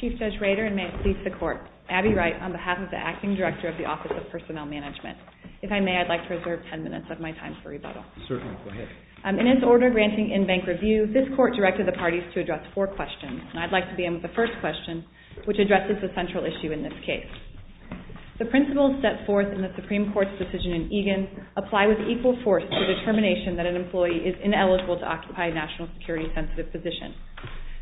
Chief Judge Rader, and may it please the Court, Abbey Wright, on behalf of the Acting Director of the Office of Personnel Management. If I may, I'd like to reserve ten minutes of my time for rebuttal. Certainly, go ahead. In its order granting in-bank review, this Court directed the parties to address four questions, and I'd like to begin with the first question, which addresses the central issue in this case. The principles set forth in the Supreme Court's decision in Egan apply with equal force to the determination that an employee is ineligible to occupy a national security-sensitive position.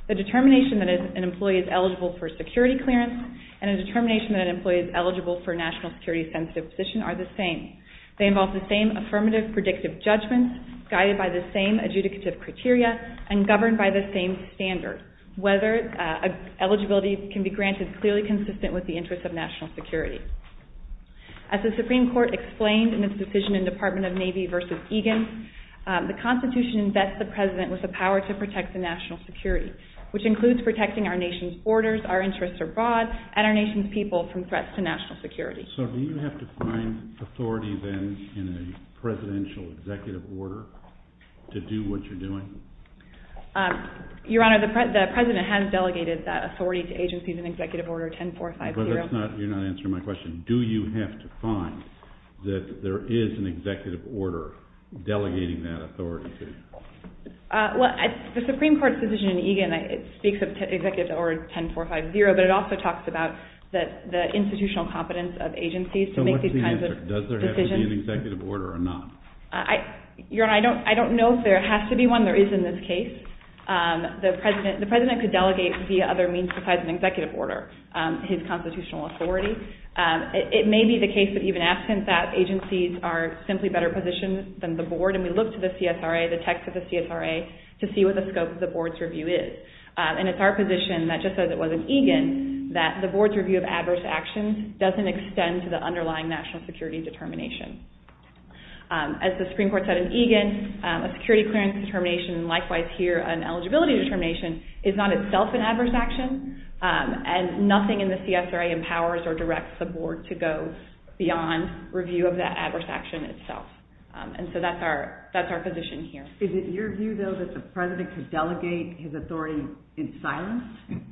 The determination that an employee is eligible for security clearance and a determination that an employee is eligible for a national security-sensitive position are the same. They involve the same affirmative, predictive judgments, guided by the same adjudicative criteria, and governed by the same standards. Whether eligibility can be granted is clearly consistent with the interests of national security. As the Supreme Court explained in its decision in the Department of Navy v. Egan, the Constitution vests the President with the power to protect the national security, which includes protecting our nation's borders, our interests abroad, and our nation's people from threats to national security. So do you have to find authority, then, in a presidential executive order to do what you're doing? Your Honor, the President has delegated that authority to agencies in Executive Order 10450. But that's not, you're not answering my question. Do you have to find that there is an executive order delegating that authority to you? Well, the Supreme Court's decision in Egan, it speaks of Executive Order 10450, but it agencies to make these kinds of decisions. So what's the answer? Does there have to be an executive order or not? Your Honor, I don't know if there has to be one. There is, in this case. The President could delegate, via other means besides an executive order, his constitutional authority. It may be the case that, even absent that, agencies are simply better positioned than the Board. And we look to the CSRA, the text of the CSRA, to see what the scope of the Board's review is. And it's our position that, just as it was in Egan, that the Board's review of adverse actions doesn't extend to the underlying national security determination. As the Supreme Court said in Egan, a security clearance determination, and likewise here, an eligibility determination, is not itself an adverse action. And nothing in the CSRA empowers or directs the Board to go beyond review of that adverse action itself. And so that's our, that's our position here. Is it your view, though, that the President could delegate his authority in silence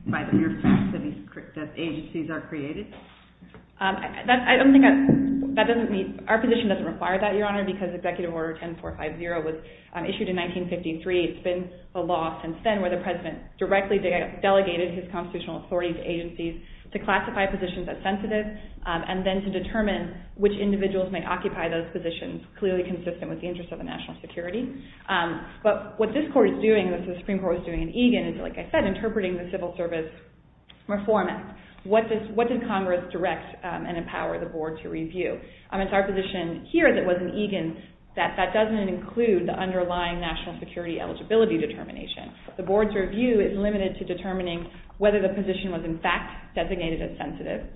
by the fact that agencies are created? I don't think that, that doesn't mean, our position doesn't require that, Your Honor, because Executive Order 10450 was issued in 1953. It's been a law since then where the President directly delegated his constitutional authority to agencies to classify positions as sensitive, and then to determine which individuals may occupy those positions, clearly consistent with the interests of the national security. But what this Court is doing, and what the Supreme Court is doing in Egan is, like I said, interpreting the civil service reform. What does, what did Congress direct and empower the Board to review? It's our position here that was in Egan that that doesn't include the underlying national security eligibility determination. The Board's review is limited to determining whether the position was in fact designated as sensitive,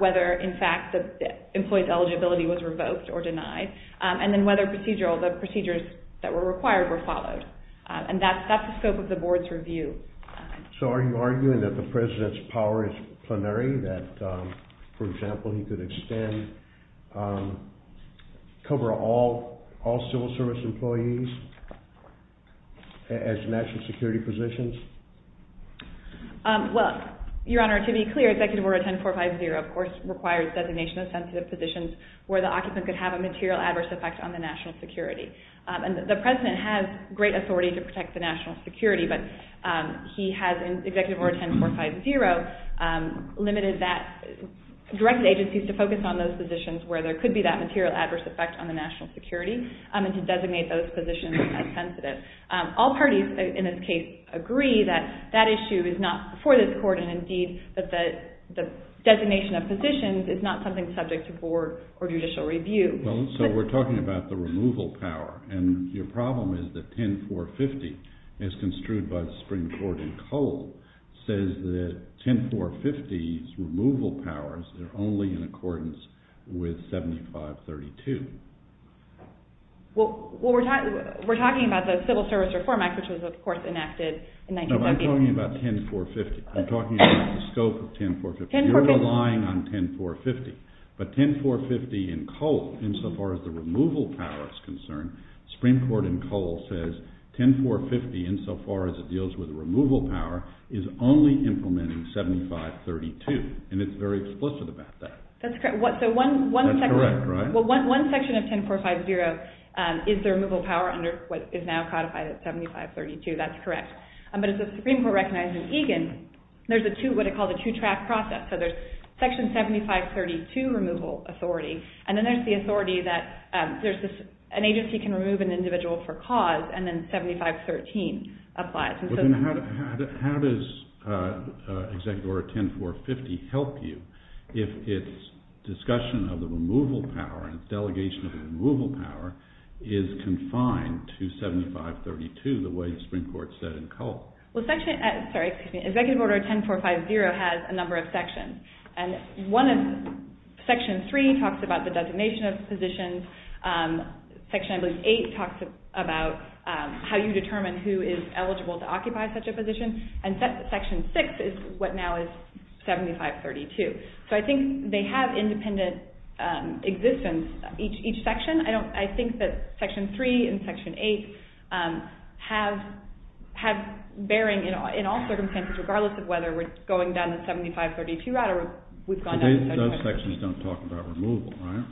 whether, in fact, the employee's eligibility was revoked or denied, and then whether procedural, the procedures that were required were followed. And that's, that's the scope of the Board's review. So are you arguing that the President's power is plenary, that, for example, he could extend, cover all, all civil service employees as national security positions? Well, Your Honor, to be clear, Executive Order 10450, of course, requires designation of sensitive positions where the occupant could have a material adverse effect on the national security. And the President has great authority to protect the national security, but he has, in Executive Order 10450, limited that, directed agencies to focus on those positions where there could be that material adverse effect on the national security, and to designate those positions as sensitive. All parties, in this case, agree that that issue is not for this Court, and indeed that the designation of positions is not something subject to Board or judicial review. Well, so we're talking about the removal power, and your problem is that 10450, as construed by the Supreme Court in Cole, says that 10450's removal powers are only in accordance with 7532. Well, we're talking about the Civil Service Reform Act, which was, of course, enacted in 1990. No, I'm talking about 10450. I'm talking about the scope of 10450. You're relying on 10450, but 10450 in Cole, insofar as the removal power is concerned, Supreme Court in Cole says 10450, insofar as it deals with the removal power, is only implementing 7532, and it's very explicit about that. That's correct. That's correct, right? Well, one section of 10450 is the removal power under what is now codified as 7532. That's correct. But as the Supreme Court recognized in Egan, there's a two, what it does, so there's section 7532 removal authority, and then there's the authority that an agency can remove an individual for cause, and then 7513 applies. Well, then how does Executive Order 10450 help you if its discussion of the removal power and its delegation of the removal power is confined to 7532, the way the Supreme Court said in Cole? Well, section, sorry, excuse me, Executive Order 10450 has a number of sections, and one of, section three talks about the designation of positions. Section, I believe, eight talks about how you determine who is eligible to occupy such a position, and section six is what now is 7532. So I think they have independent existence, each section. I don't, I think that section three and section eight have bearing in all circumstances, regardless of whether we're going down the 7532 route or we've gone down the 7532 route. But those sections don't talk about removal, right?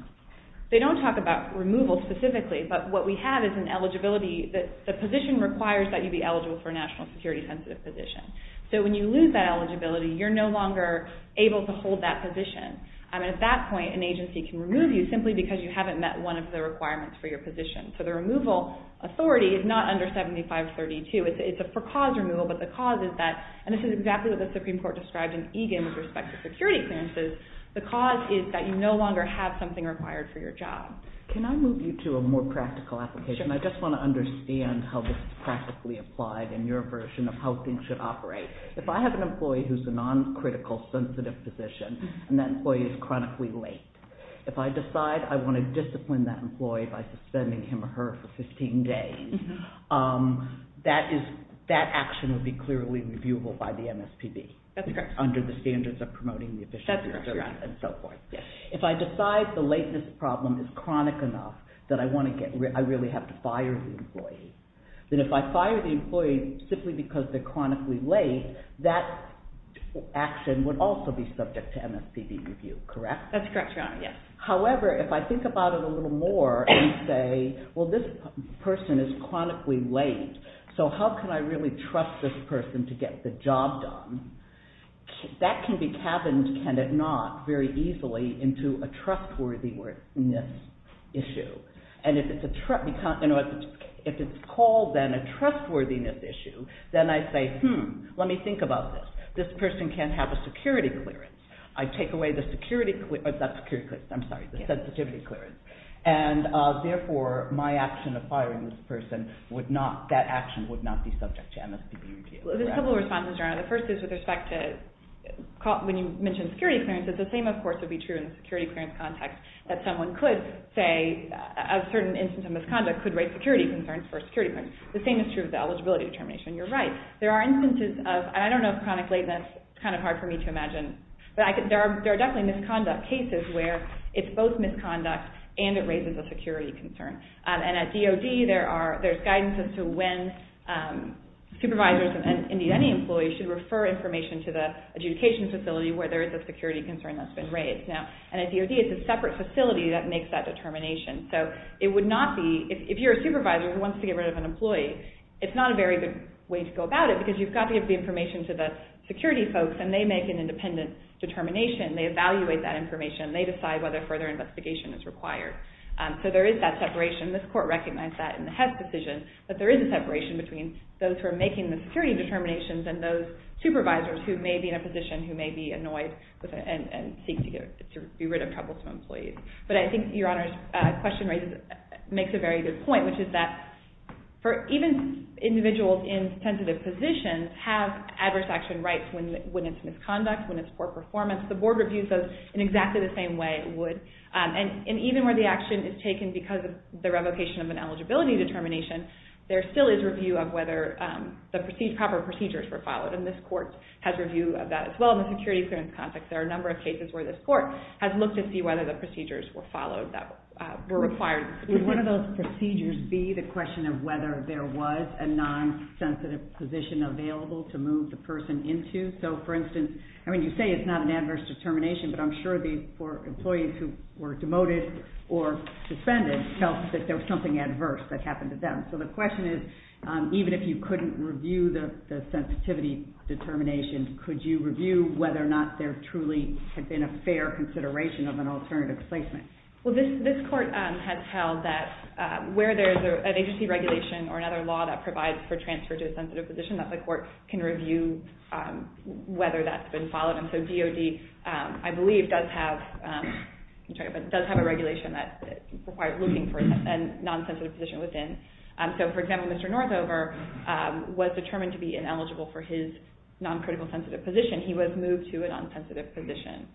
They don't talk about removal specifically, but what we have is an eligibility that, the position requires that you be eligible for a national security sensitive position. So when you lose that eligibility, you're no longer able to hold that position. I mean, at that point, an agency can remove you simply because you haven't met one of the requirements for your position. So the removal authority is not under 7532. It's a for-cause removal, but the cause is that, and this is exactly what the Supreme Court described in Egan with respect to security clearances, the cause is that you no longer have something required for your job. Can I move you to a more practical application? Sure. I just want to understand how this is practically applied in your version of how things should operate. If I have an employee who's a non-critical sensitive position, and that employee is chronically late, if I decide I want to discipline that employee by suspending him or her for 15 days, that is, that action would be clearly reviewable by the MSPB. That's correct. Under the standards of promoting the efficiency. That's correct. And so forth. Yes. If I decide the lateness problem is chronic enough that I want to get, I really have to fire the employee, then if I fire the employee simply because they're chronically late, that action would also be subject to MSPB review, correct? That's correct, Your Honor, yes. However, if I think about it a little more and say, well, this person is chronically late, so how can I really trust this person to get the job done, that can be cabined, can it not, very easily into a trustworthiness issue. And if it's called, then, a trustworthiness issue, then I say, hmm, let me think about this. This person can have a security clearance. I take away the security, not security clearance, I'm sorry, the sensitivity clearance, and therefore, my action of firing this person would not, that action would not be subject to MSPB review. There's a couple of responses, Your Honor. The first is with respect to, when you mentioned security clearance, it's the same, of course, would be true in the security clearance context that someone could say, a certain instance of misconduct could raise security concerns or security concerns. The same is true of the eligibility determination. You're right. There are instances of, and I don't know if chronically, that's kind of hard for me to imagine, but there are definitely misconduct cases where it's both misconduct and it raises a security concern. And at DOD, there's guidance as to when supervisors and, indeed, any employee should refer information to the adjudication facility where there is a security concern that's been raised. Now, and at DOD, it's a separate facility that makes that determination. So, it would It's not a very good way to go about it because you've got to give the information to the security folks and they make an independent determination. They evaluate that information and they decide whether further investigation is required. So, there is that separation. This Court recognized that in the Hess decision that there is a separation between those who are making the security determinations and those supervisors who may be in a position who may be annoyed and seek to get, to be rid of troublesome employees. But I think Your Honor's question makes a very good point, which is that even individuals in sensitive positions have adverse action rights when it's misconduct, when it's poor performance. The Board reviews those in exactly the same way it would. And even where the action is taken because of the revocation of an eligibility determination, there still is review of whether the proper procedures were followed. And this Court has review of that as well in the security clearance context. There are a number of cases where this Court has looked to see whether the procedures were followed that were required. Would one of those procedures be the question of whether there was a non-sensitive position available to move the person into? So, for instance, I mean, you say it's not an adverse determination, but I'm sure these employees who were demoted or suspended felt that there was something adverse that happened to them. So, the question is, even if you couldn't review the sensitivity determination, could you review whether or not there truly had been a fair consideration of an alternative placement? Well, this Court has held that where there is an agency regulation or another law that provides for transfer to a sensitive position, that the Court can review whether that's been followed. And so DOD, I believe, does have a regulation that requires looking for a non-sensitive position within. So, for example, Mr. Northover was determined to be ineligible for his non-critical or non-sensitive position. He was moved to a non-sensitive position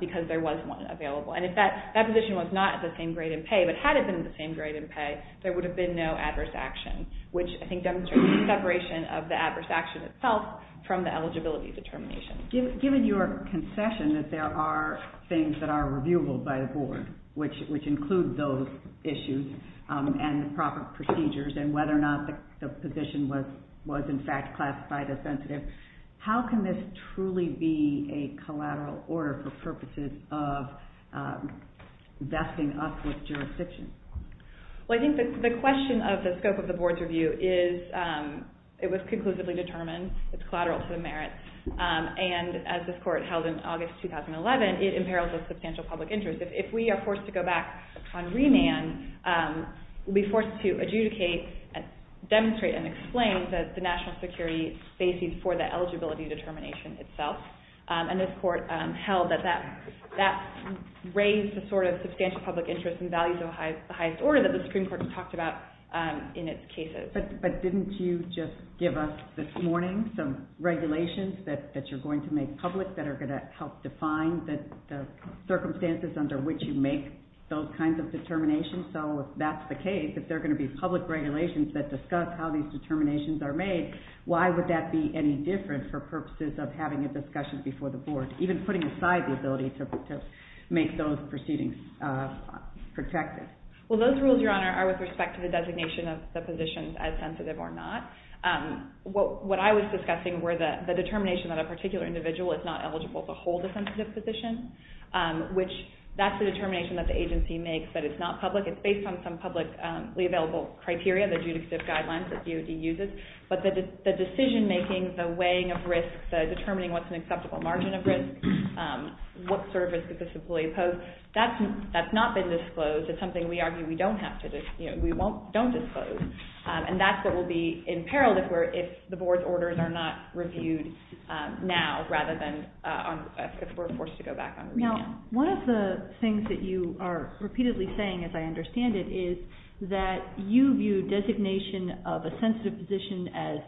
because there was one available. And if that position was not at the same grade in pay, but had it been the same grade in pay, there would have been no adverse action, which I think demonstrates the separation of the adverse action itself from the eligibility determination. Given your concession that there are things that are reviewable by the Board, which include those issues and the proper procedures, and whether or not the position was in fact classified as sensitive, how can this truly be a collateral order for purposes of vesting up with jurisdiction? Well, I think the question of the scope of the Board's review is, it was conclusively determined, it's collateral to the merit, and as this Court held in August 2011, it imperils the substantial public interest. If we are forced to go back on remand, we'll be forced to adjudicate, demonstrate, and explain the national security basis for the eligibility determination itself. And this Court held that that raised the sort of substantial public interest and values of the highest order that the Supreme Court talked about in its cases. But didn't you just give us this morning some regulations that you're going to make public that are going to help define the circumstances under which you make those kinds of determinations? So if that's the case, if there are going to be public regulations that discuss how these determinations are made, why would that be any different for purposes of having a discussion before the Board, even putting aside the ability to make those proceedings Well, those rules, Your Honor, are with respect to the designation of the positions as sensitive or not. What I was discussing were the determination that a particular individual is not eligible to hold a sensitive position, which that's the determination that the agency makes that it's not public. It's based on some publicly available criteria, the judicative guidelines that DOD uses. But the decision-making, the weighing of risks, the determining what's an acceptable margin of risk, what sort of risk does this employee pose, that's not been disclosed. It's something we argue we don't have to disclose, we don't disclose. And that's what will be in peril if the Board's orders are not reviewed now rather than if we're forced to go back on remand. One of the things that you are repeatedly saying, as I understand it, is that you view designation of a sensitive position as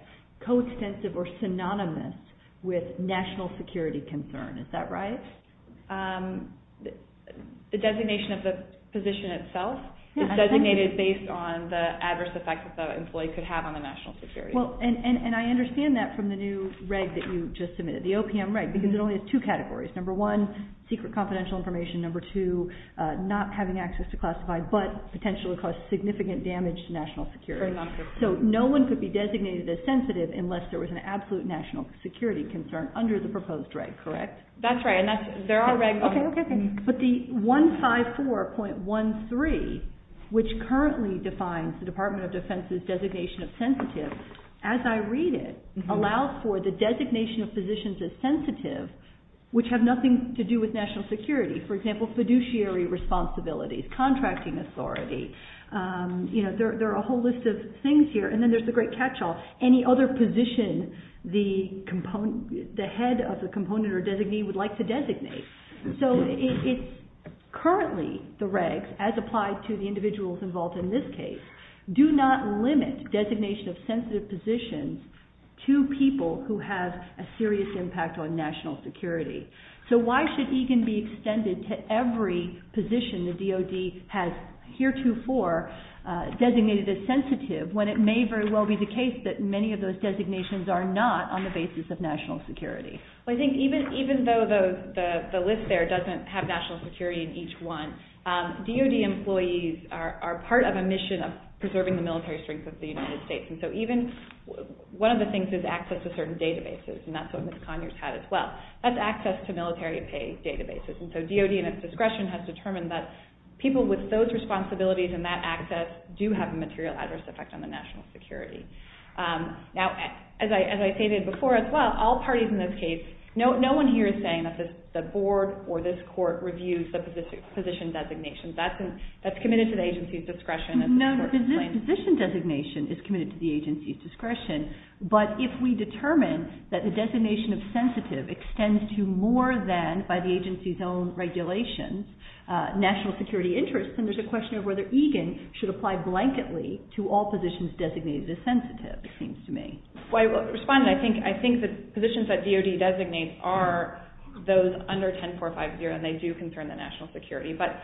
coextensive or synonymous with national security concern. Is that right? The designation of the position itself is designated based on the adverse effects that the employee could have on the national security. Well, and I understand that from the new reg that you just submitted, the OPM reg, because it only has two categories. Number one, secret confidential information. Number two, not having access to classified, but potentially cause significant damage to national security. So no one could be designated as sensitive unless there was an absolute national security concern under the proposed reg, correct? That's right. And that's, there are regs. Okay, okay, okay. But the 154.13, which currently defines the Department of Defense's designation of sensitive, as I read it, allows for the designation of positions as sensitive, which have nothing to do with national security. For example, fiduciary responsibilities, contracting authority. You know, there are a whole list of things here. And then there's the great catch-all, any other position the head of the component or designee would like to designate. So it's currently, the regs, as applied to the individuals involved in this case, do not limit designation of sensitive positions to people who have a serious impact on national security. So why should EGAN be extended to every position the DOD has heretofore designated as sensitive, when it may very well be the case that many of those designations are not on the basis of national security? Well, I think even though the list there doesn't have national security in each one, DOD employees are part of a mission of preserving the military strength of the United States. And so even, one of the things is access to certain databases, and that's what Ms. Conyers had as well. That's access to military pay databases. And so DOD, in its discretion, has determined that people with those responsibilities and that access do have a material adverse effect on the national security. Now, as I stated before as well, all parties in this case, no one here is saying that the agency's discretion is important. No, no, the position designation is committed to the agency's discretion. But if we determine that the designation of sensitive extends to more than, by the agency's own regulations, national security interests, then there's a question of whether EGAN should apply blanketly to all positions designated as sensitive, it seems to me. Well, I will respond. I think the positions that DOD designates are those under 10450, and they do concern the national security. But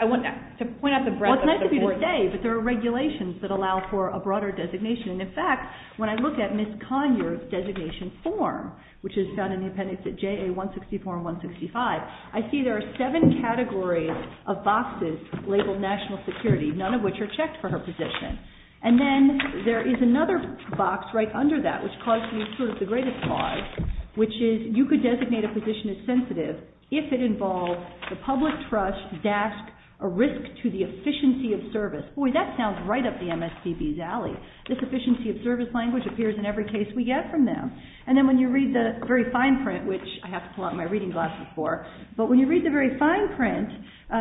I want to point out the breadth of support. Well, it's nice of you to say, but there are regulations that allow for a broader designation. And, in fact, when I look at Ms. Conyers' designation form, which is found in the appendix at JA-164 and 165, I see there are seven categories of boxes labeled national security, none of which are checked for her position. And then there is another box right under that, which causes me sort of the greatest cause, which is you could designate a position as sensitive if it involves the public trust dashed a risk to the efficiency of service. Boy, that sounds right up the MSPB's alley. This efficiency of service language appears in every case we get from them. And then when you read the very fine print, which I have to pull out my reading glasses for, but when you read the very fine print,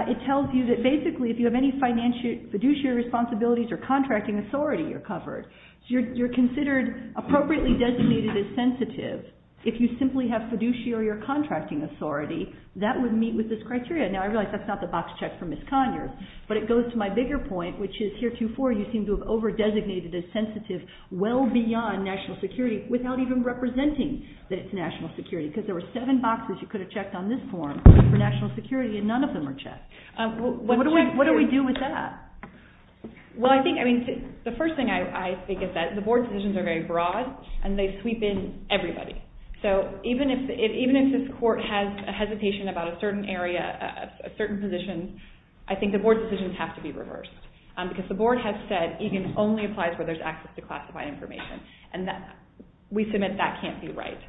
it tells you that basically if you have any financial fiduciary responsibilities or contracting authority, you're covered. You're considered appropriately designated as sensitive if you simply have fiduciary or contracting authority, that would meet with this criteria. Now, I realize that's not the box checked for Ms. Conyers, but it goes to my bigger point, which is heretofore you seem to have over-designated as sensitive well beyond national security without even representing that it's national security. Because there were seven boxes you could have checked on this form for national security and none of them are checked. What do we do with that? Well, I think, I mean, the first thing I think is that the board decisions are very broad and they sweep in everybody. So even if this court has a hesitation about a certain area, a certain position, I think the board decisions have to be reversed. Because the board has said EGIN only applies where there's access to classified information. And we submit that can't be right.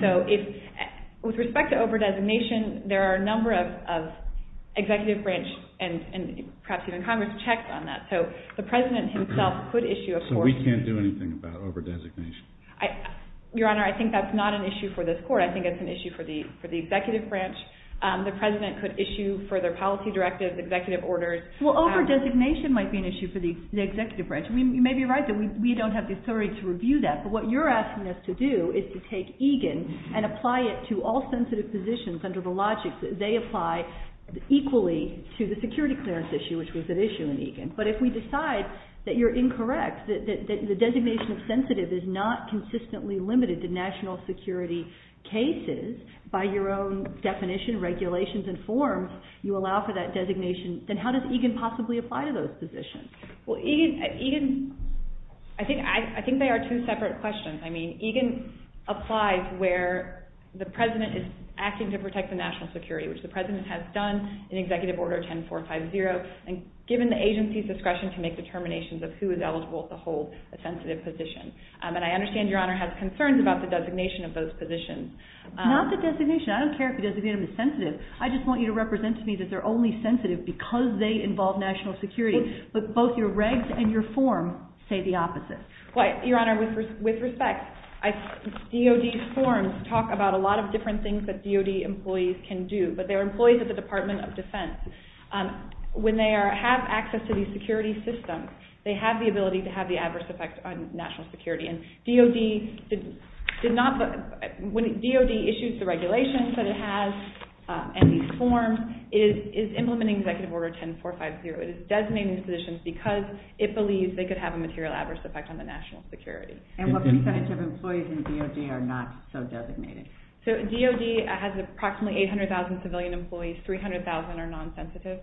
So with respect to over-designation, there are a number of executive branch and perhaps even Congress checks on that. So the President himself could issue a court. So we can't do anything about over-designation? Your Honor, I think that's not an issue for this court. I think it's an issue for the executive branch. The President could issue further policy directives, executive orders. Well, over-designation might be an issue for the executive branch. You may be right that we don't have the authority to review that. But what you're asking us to do is to take EGIN and apply it to all sensitive positions under the logic that they apply equally to the security clearance issue, which was an issue in EGIN. But if we decide that you're incorrect, that the designation of sensitive is not consistently limited to national security cases, by your own definition, regulations, and forms, you allow for that designation, then how does EGIN possibly apply to those positions? Well, EGIN, I think they are two separate questions. I mean, EGIN applies where the President is acting to protect the national security, which the President has done in Executive Order 10450, and given the agency's discretion to make determinations of who is eligible to hold a sensitive position. And I understand, Your Honor, has concerns about the designation of those positions. Not the designation. I don't care if the designation is sensitive. I just want you to represent to me that they're only sensitive because they involve national security. But both your regs and your form say the opposite. Well, Your Honor, with respect, DOD's forms talk about a lot of different things that DOD employees can do. But they're employees of the Department of Defense. When they have access to these security systems, they have the ability to have the adverse effect on national security. And DOD did not, when DOD issues the regulations that it has, and these forms, is implementing Executive Order 10450. It is designating positions because it believes they could have a material adverse effect on the national security. And what percentage of employees in DOD are not so designated? So DOD has approximately 800,000 civilian employees. 300,000 are non-sensitive.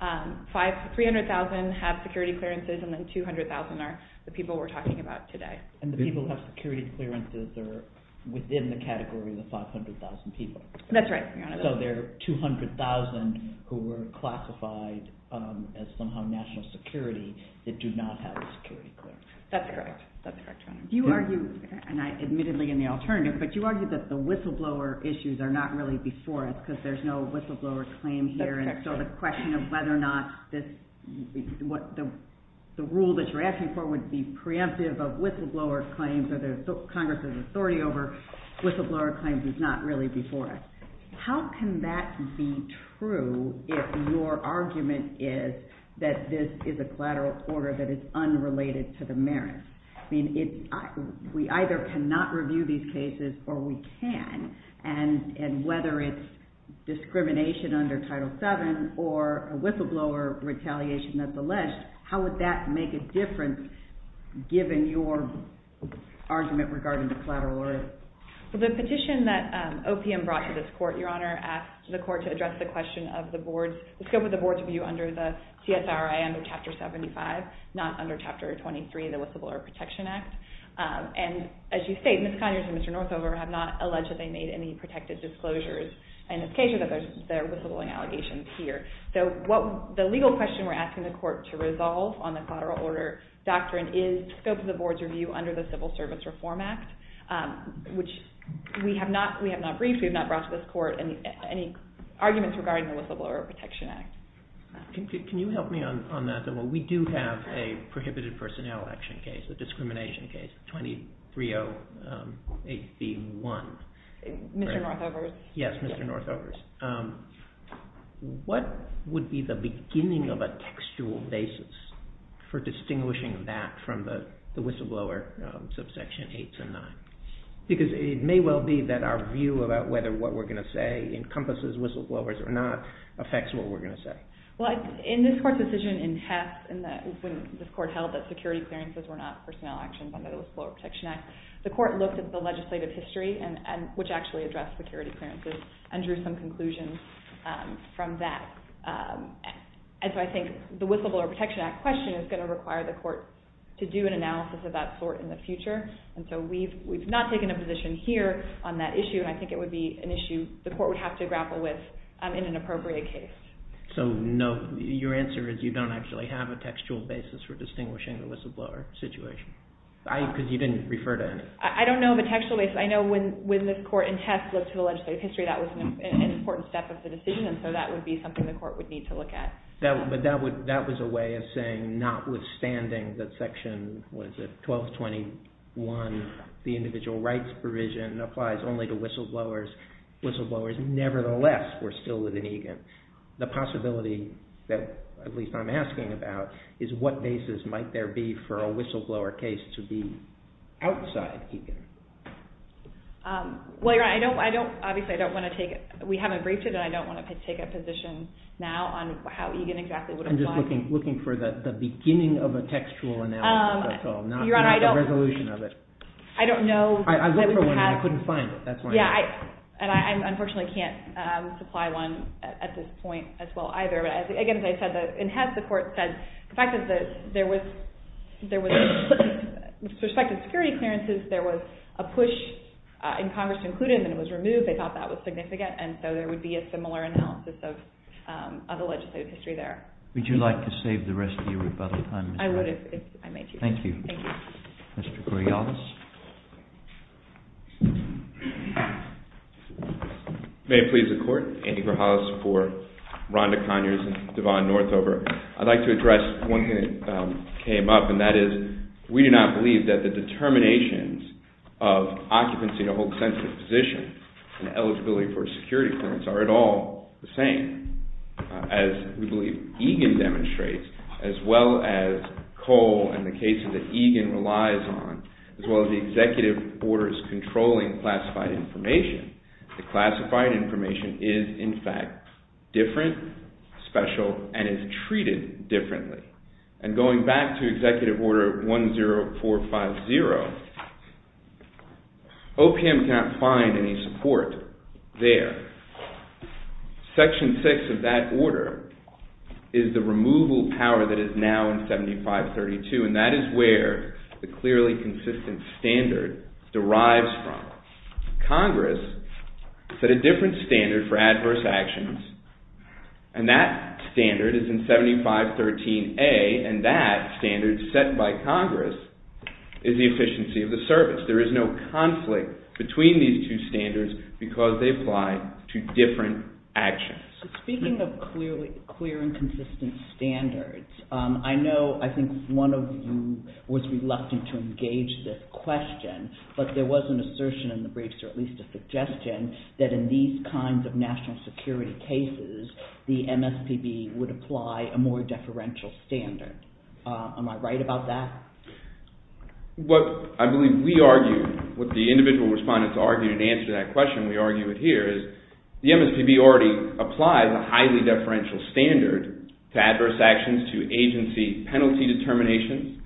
300,000 have security clearances, and then 200,000 are the people we're talking about today. And the people who have security clearances are within the category of the 500,000 people. That's right, Your Honor. So there are 200,000 who are classified as somehow national security that do not have a security clearance. That's correct. That's correct, Your Honor. You argue, and I admittedly in the alternative, but you argue that the whistleblower issues are not really before us because there's no whistleblower claim here. That's correct. And so the question of whether or not the rule that you're asking for would be preemptive of whistleblower claims or the Congress's authority over whistleblower claims is not really before us. How can that be true if your argument is that this is a collateral order that is unrelated to the merits? I mean, we either cannot review these cases or we can. And whether it's discrimination under Title VII or a whistleblower retaliation that's alleged, how would that make a difference given your argument regarding the collateral order? The petition that OPM brought to this court, Your Honor, asked the court to address the question of the scope of the board's review under the CSRI under Chapter 75, not under Chapter 23 of the Whistleblower Protection Act. And as you state, Ms. Conyers and Mr. Northover have not alleged that they made any protected disclosures in this case or that there are whistleblowing allegations here. So the legal question we're asking the court to resolve on the collateral order doctrine is scope of the board's review under the Civil Service Reform Act, which we have not briefed. We have not brought to this court any arguments regarding the Whistleblower Protection Act. Can you help me on that? We do have a prohibited personnel action case, a discrimination case, 2308b1. Mr. Northover's? Yes, Mr. Northover's. What would be the beginning of a textual basis for distinguishing that from the whistleblower subsection 8 to 9? Because it may well be that our view about whether what we're going to say encompasses whistleblowers or not affects what we're going to say. Well, in this court's decision in Hess, when this court held that security clearances were not personnel actions under the Whistleblower Protection Act, the court looked at the legislative history, which actually addressed security clearances, and drew some conclusions from that. And so I think the Whistleblower Protection Act question is going to require the court to do an analysis of that sort in the future. And so we've not taken a position here on that issue. And I think it would be an issue the court would have to grapple with in an appropriate case. So no, your answer is you don't actually have a textual basis for distinguishing the whistleblower situation? Because you didn't refer to any. I don't know of a textual basis. I know when this court in Hess looked at the legislative history, that was an important step of the decision. And so that would be something the court would need to look at. But that was a way of saying, notwithstanding that Section 1221, the individual rights provision, applies only to whistleblowers, whistleblowers nevertheless were still litigation. The possibility that, at least I'm asking about, is what basis might there be for a Well, Your Honor, I don't, obviously, I don't want to take, we haven't briefed it, and I don't want to take a position now on how Egan exactly would apply. I'm just looking for the beginning of a textual analysis, that's all, not the resolution of it. I don't know. I looked for one, and I couldn't find it. That's why I'm asking. Yeah, and I unfortunately can't supply one at this point as well either. But again, as I said, in Hess, the court said the fact that there was, with respect to security appearances, there was a push in Congress to include it, and then it was removed. They thought that was significant. And so there would be a similar analysis of the legislative history there. Would you like to save the rest of your rebuttal time? I would if I may, Chief. Thank you. Thank you. Mr. Coriolis. May it please the Court, Andy Coriolis for Rhonda Conyers and Devon Northover. I'd like to address one thing that came up, and that is we do not believe that the determinations of occupancy in a hold sensitive position and eligibility for a security clearance are at all the same. As we believe Egan demonstrates, as well as Cole and the cases that Egan relies on, as well as the executive orders controlling classified information, the classified information is in fact different, special, and is treated differently. And going back to Executive Order 10450, OPM cannot find any support there. Section 6 of that order is the removal power that is now in 7532, and that is where the clearly consistent standard derives from. Congress set a different standard for adverse actions, and that standard is in 7513A, and that standard set by Congress is the efficiency of the service. There is no conflict between these two standards because they apply to different actions. Speaking of clear and consistent standards, I know I think one of you was reluctant to make at least a suggestion that in these kinds of national security cases, the MSPB would apply a more deferential standard. Am I right about that? What I believe we argue, what the individual respondents argued in answer to that question, we argue it here, is the MSPB already applies a highly deferential standard to adverse actions to agency penalty determinations.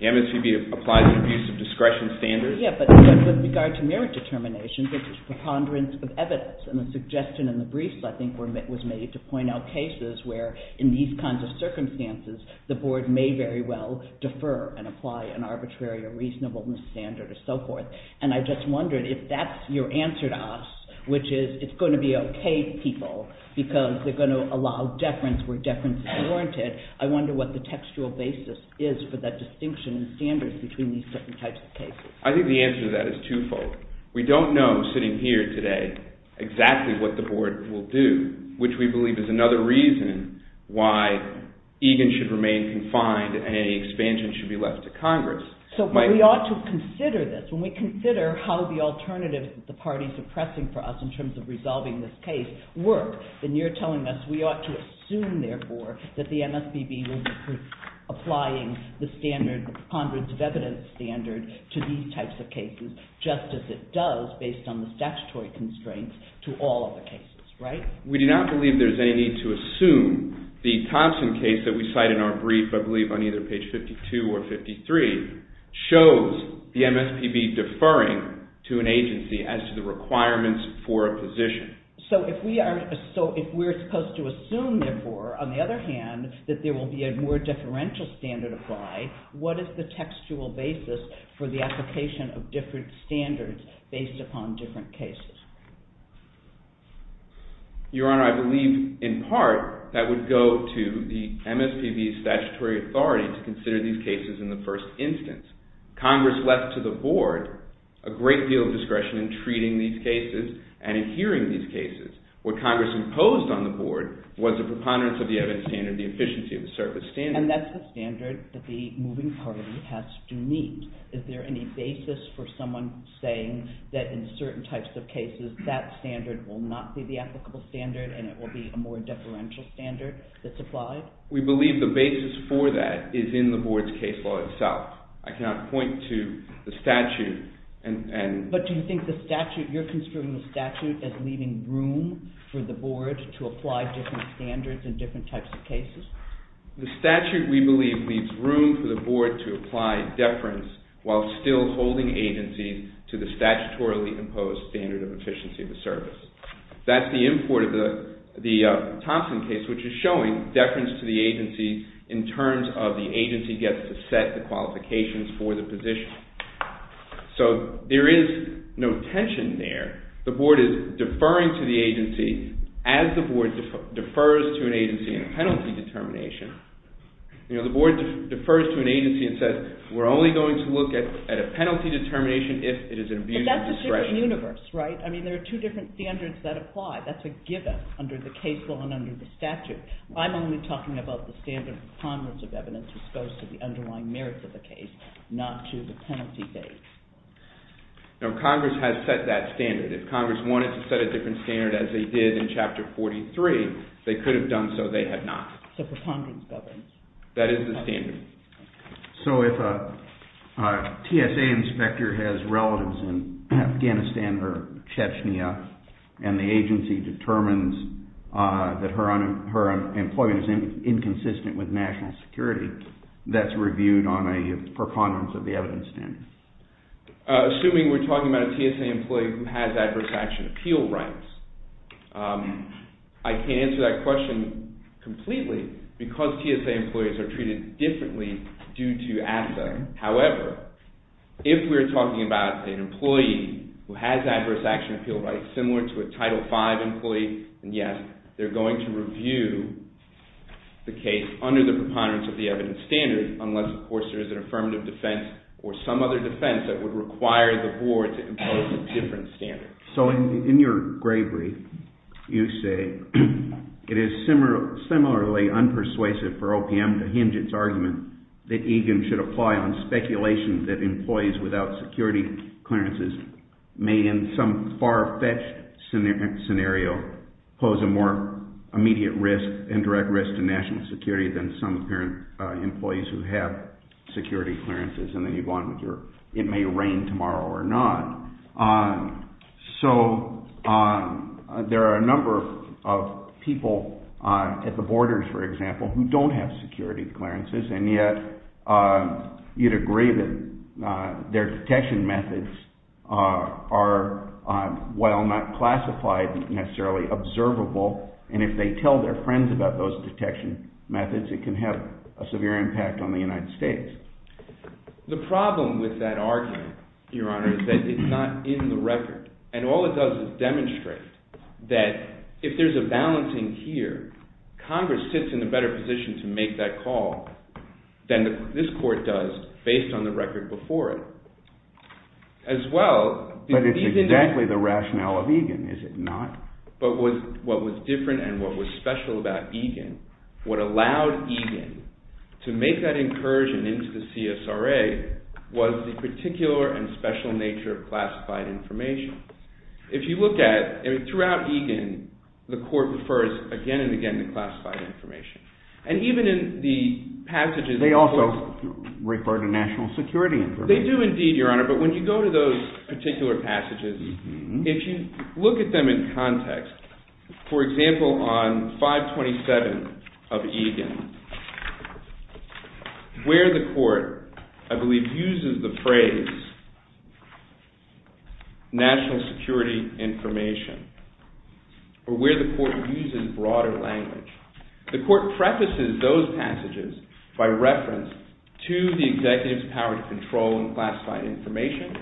The MSPB applies an abuse of discretion standard. But with regard to merit determinations, it's a preponderance of evidence. And the suggestion in the briefs, I think, was made to point out cases where in these kinds of circumstances, the Board may very well defer and apply an arbitrary or reasonableness standard or so forth. And I just wondered if that's your answer to us, which is it's going to be okay, people, because they're going to allow deference where deference is warranted. I wonder what the textual basis is for that distinction in standards between these different types of cases. I think the answer to that is twofold. We don't know, sitting here today, exactly what the Board will do, which we believe is another reason why Egan should remain confined and any expansion should be left to Congress. So we ought to consider this. When we consider how the alternatives the parties are pressing for us in terms of resolving this case work, then you're telling us we ought to assume, therefore, that the MSPB will be applying the standards, the preponderance of evidence standard, to these types of cases just as it does based on the statutory constraints to all of the cases, right? We do not believe there's any need to assume. The Thompson case that we cite in our brief, I believe on either page 52 or 53, shows the MSPB deferring to an agency as to the requirements for a position. So if we're supposed to assume, therefore, on the other hand, that there will be a more differential standard applied, what is the textual basis for the application of different standards based upon different cases? Your Honor, I believe, in part, that would go to the MSPB's statutory authority to consider these cases in the first instance. Congress left to the Board a great deal of discretion in treating these cases and in considering these cases. What Congress imposed on the Board was the preponderance of the evidence standard, the efficiency of the surface standard. And that's the standard that the moving party has to meet. Is there any basis for someone saying that in certain types of cases, that standard will not be the applicable standard and it will be a more differential standard that's applied? We believe the basis for that is in the Board's case law itself. I cannot point to the statute and... But do you think the statute, you're considering the statute as leaving room for the Board to apply different standards in different types of cases? The statute, we believe, leaves room for the Board to apply deference while still holding agencies to the statutorily imposed standard of efficiency of the surface. That's the import of the Thompson case, which is showing deference to the agency in terms of the agency gets to set the qualifications for the position. So there is no tension there. The Board is deferring to the agency as the Board defers to an agency in a penalty determination. You know, the Board defers to an agency and says, we're only going to look at a penalty determination if it is an abuse of discretion. But that's a different universe, right? I mean, there are two different standards that apply. That's a given under the case law and under the statute. I'm only talking about the standard of preponderance of evidence, which goes to the underlying merits of the case, not to the penalty date. Now, Congress has set that standard. If Congress wanted to set a different standard as they did in Chapter 43, they could have done so. They had not. So preponderance governs. That is the standard. So if a TSA inspector has relatives in Afghanistan or Chechnya and the agency determines that her employment is inconsistent with national security, that's reviewed on a preponderance of the evidence standard. Assuming we're talking about a TSA employee who has adverse action appeal rights, I can't answer that question completely because TSA employees are treated differently due to ASSA. However, if we're talking about an employee who has adverse action appeal rights similar to a Title V employee, then yes, they're going to review the case under the preponderance of the evidence standard unless, of course, there is an affirmative defense or some other defense that would require the board to impose a different standard. So in your gray brief, you say, it is similarly unpersuasive for OPM to hinge its argument that EGIM should apply on speculation that employees without security clearances may in some far-fetched scenario pose a more immediate risk and direct risk to national security than some current employees who have security clearances. And then you go on with your, it may rain tomorrow or not. So there are a number of people at the borders, for example, who don't have security clearances and yet you'd agree that their detection methods are, while not classified, necessarily observable. And if they tell their friends about those detection methods, it can have a severe impact on the United States. The problem with that argument, Your Honor, is that it's not in the record. And all it does is demonstrate that if there's a balancing here, Congress sits in a better position to make that call than this court does based on the record before it. As well, these individuals… But it's exactly the rationale of EGIM, is it not? But what was different and what was special about EGIM, what allowed EGIM to make that incursion into the CSRA was the particular and special nature of classified information. If you look at, throughout EGIM, the court refers again and again to classified information. And even in the passages… They also refer to national security information. They do indeed, Your Honor. But when you go to those particular passages, if you look at them in context, for example, on 527 of EGIM, where the court, I believe, uses the phrase national security information, or where the court uses broader language, the court prefaces those passages by reference to the executive's power to control and classify information.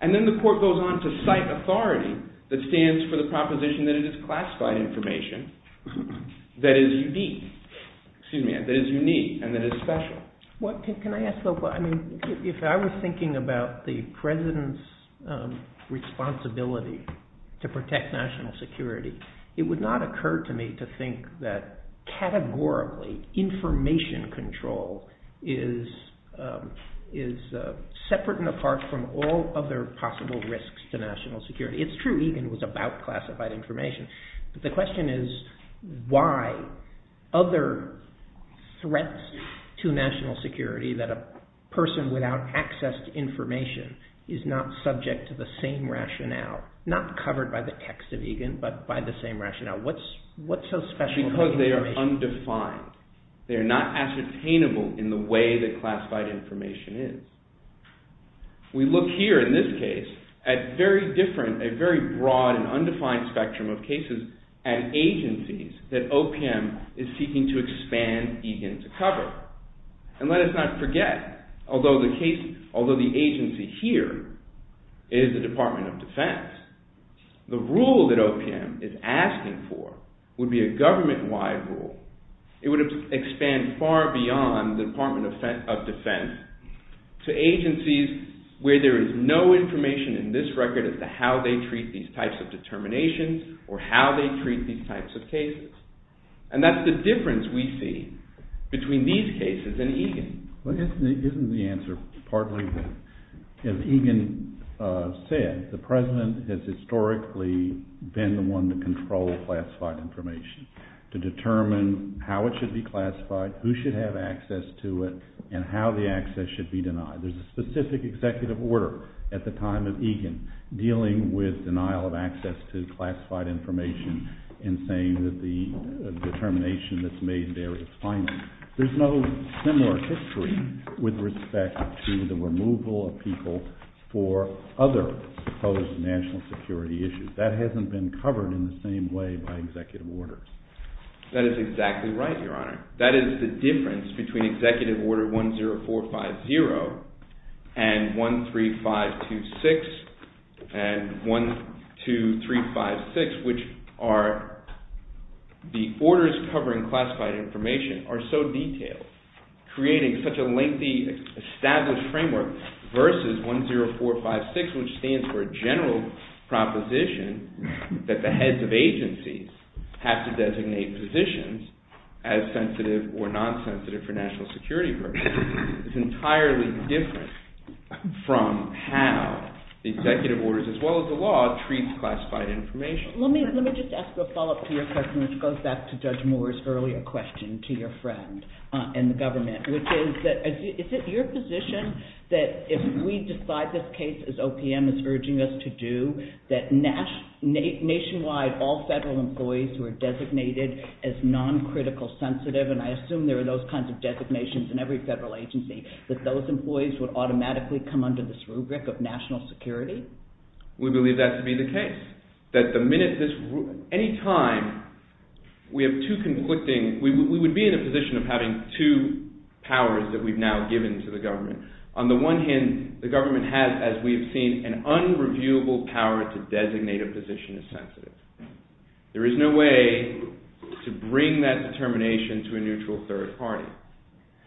And then the court goes on to cite authority that stands for the proposition that it is unique and that it is special. Can I ask, though, if I was thinking about the President's responsibility to protect national security, it would not occur to me to think that categorically information control is separate and apart from all other possible risks to national security. It's true EGIM was about classified information. But the question is why other threats to national security that a person without access to information is not subject to the same rationale, not covered by the text of EGIM, but by the same rationale. What's so special about information? Because they are undefined. They are not ascertainable in the way that classified information is. We look here in this case at very different, a very broad and undefined spectrum of cases and agencies that OPM is seeking to expand EGIM to cover. And let us not forget, although the agency here is the Department of Defense, the rule that OPM is asking for would be a government-wide rule. It would expand far beyond the Department of Defense to agencies where there is no information in this record as to how they treat these types of determinations or how they treat these types of cases. And that's the difference we see between these cases and EGIM. Isn't the answer partly that, as EGIM said, the President has historically been the one to control classified information, to determine how it should be classified, who should have access to it, and how the access should be denied. There's a specific executive order at the time of EGIM dealing with denial of access to classified information in saying that the determination that's made there is finite. There's no similar history with respect to the removal of people for other supposed national security issues. That hasn't been covered in the same way by executive orders. That is exactly right, Your Honor. That is the difference between Executive Order 10450 and 13526 and 12356, which are the orders covering classified information are so detailed, creating such a lengthy established framework, versus 10456, which stands for a general proposition that the heads of agencies have to designate positions as sensitive or non-sensitive for national security purposes. It's entirely different from how the executive orders, as well as the law, treats classified information. Let me just ask a follow-up to your question, which goes back to Judge Moore's earlier question to your friend and the government, which is that is it your position that if we decide this case as OPM is urging us to do, that nationwide all federal employees who are designated as non-critical sensitive, and I assume there are those kinds of designations in every federal agency, that those employees would automatically come under this rubric of national security? We believe that to be the case, that the minute this, any time we have two conflicting, we would be in a position of having two powers that we've now given to the government. On the one hand, the government has, as we've seen, an unreviewable power to designate a position as sensitive. There is no way to bring that determination to a neutral third party.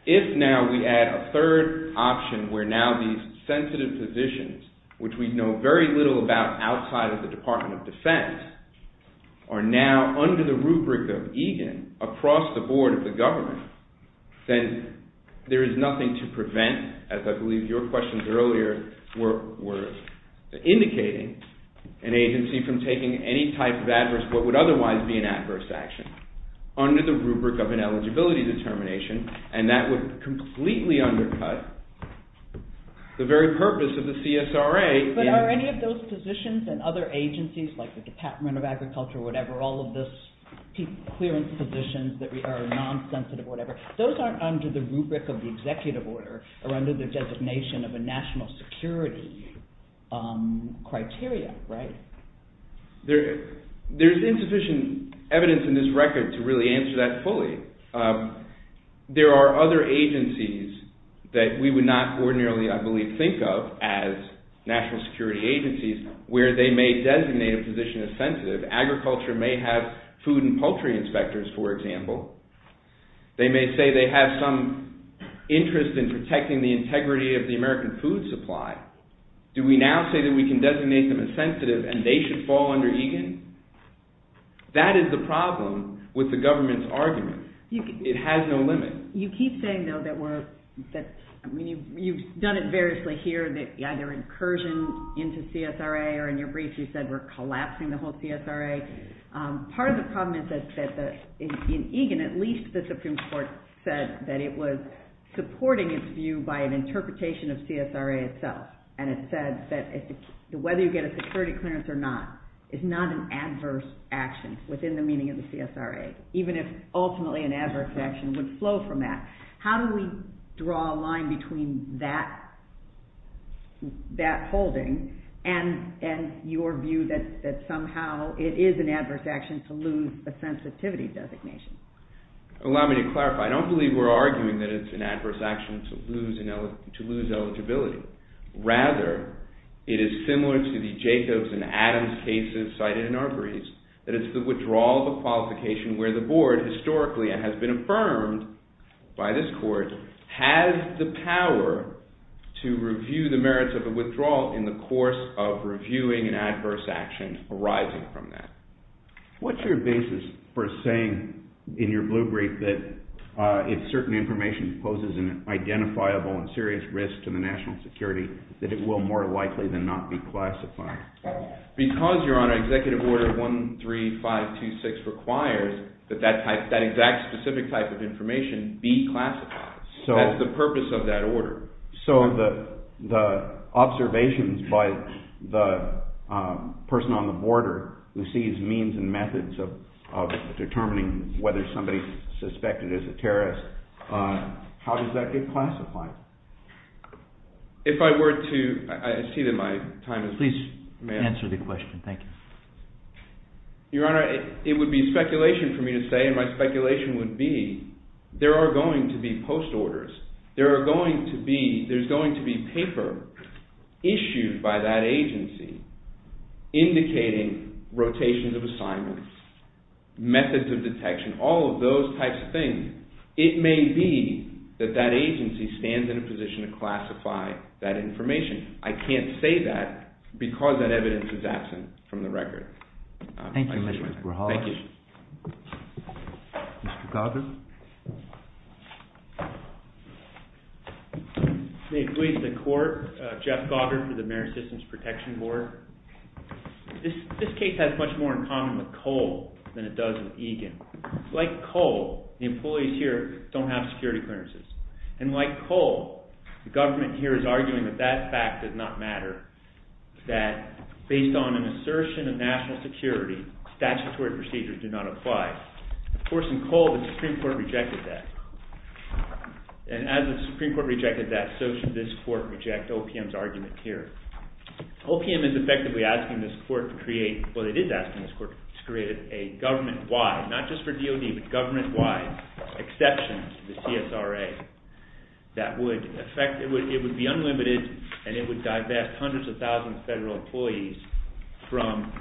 If now we add a third option where now these sensitive positions, which we know very little about outside of the Department of Defense, are now under the rubric of EGAN across the board of the government, then there is nothing to prevent, as I believe your questions earlier were indicating, an agency from taking any type of adverse, what would otherwise be an adverse action, under the rubric of an eligibility determination, and that would completely undercut the very purpose of the CSRA. But are any of those positions in other agencies, like the Department of Agriculture or whatever, or all of those clearance positions that are non-sensitive or whatever, those aren't under the rubric of the executive order or under the designation of a national security criteria, right? There's insufficient evidence in this record to really answer that fully. There are other agencies that we would not ordinarily, I believe, think of as national security agencies where they may designate a position as sensitive. Agriculture may have food and poultry inspectors, for example. They may say they have some interest in protecting the integrity of the American food supply. Do we now say that we can designate them as sensitive and they should fall under EGAN? That is the problem with the government's argument. It has no limit. You keep saying, though, that you've done it variously here, that either incursion into CSRA, or in your brief you said we're collapsing the whole CSRA. Part of the problem is that in EGAN, at least the Supreme Court said that it was supporting its view by an interpretation of CSRA itself, and it said that whether you get a security clearance or not is not an adverse action within the meaning of the CSRA, even if ultimately an adverse action would flow from that. How do we draw a line between that holding and your view that somehow it is an adverse action to lose a sensitivity designation? Allow me to clarify. I don't believe we're arguing that it's an adverse action to lose eligibility. Rather, it is similar to the Jacobs and Adams cases cited in Arbery's, that it's the withdrawal of a qualification where the board, historically, and has been affirmed by this Court, has the power to review the merits of a withdrawal in the course of reviewing an adverse action arising from that. What's your basis for saying in your blue brief that if certain information poses an identifiable and serious risk to the national security, that it will more likely than not be classified? Because, Your Honor, Executive Order 13526 requires that that exact specific type of information be classified. So the observations by the person on the border who sees means and methods of determining whether somebody is suspected as a terrorist, how does that get classified? If I were to – I see that my time is up. Please answer the question. Thank you. Your Honor, it would be speculation for me to say, and my speculation would be, there are going to be post-orders. There are going to be – there's going to be paper issued by that agency indicating rotations of assignments, methods of detection, all of those types of things. It may be that that agency stands in a position to classify that information. I can't say that because that evidence is absent from the record. Thank you, Mr. Berhoff. Thank you. Mr. Goger? May it please the Court, Jeff Goger for the Marine Systems Protection Board. This case has much more in common with Cole than it does with Egan. Like Cole, the employees here don't have security clearances. And like Cole, the government here is arguing that that fact does not matter, that based on an assertion of national security, statutory procedures do not apply. Of course, in Cole, the Supreme Court rejected that. And as the Supreme Court rejected that, so should this Court reject OPM's argument here. OPM is effectively asking this Court to create – well, it is asking this Court to create a government-wide, not just for DOD, but government-wide exception to the CSRA that would affect – hundreds of thousands of federal employees from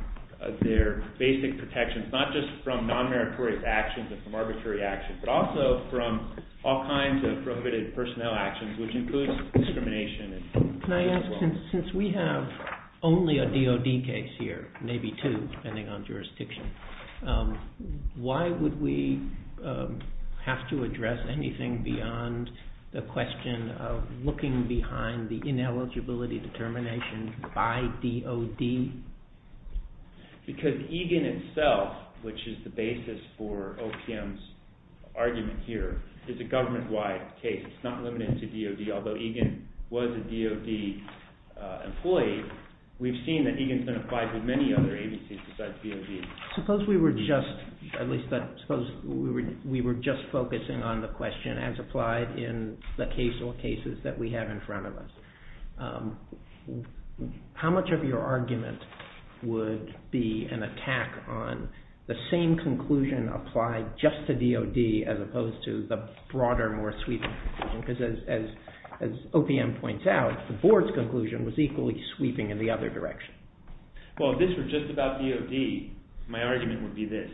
their basic protections, not just from non-meritorious actions and from arbitrary actions, but also from all kinds of prohibited personnel actions, which includes discrimination. Can I ask, since we have only a DOD case here, maybe two, depending on jurisdiction, why would we have to address anything beyond the question of looking behind the ineligibility determination by DOD? Because Egan itself, which is the basis for OPM's argument here, is a government-wide case. It's not limited to DOD. Although Egan was a DOD employee, we've seen that Egan's been applied to many other agencies besides DOD. Suppose we were just – at least suppose we were just focusing on the question as applied in the case or cases that we have in front of us. How much of your argument would be an attack on the same conclusion applied just to DOD as opposed to the broader, more sweeping conclusion? Because as OPM points out, the board's conclusion was equally sweeping in the other direction. Well, if this were just about DOD, my argument would be this.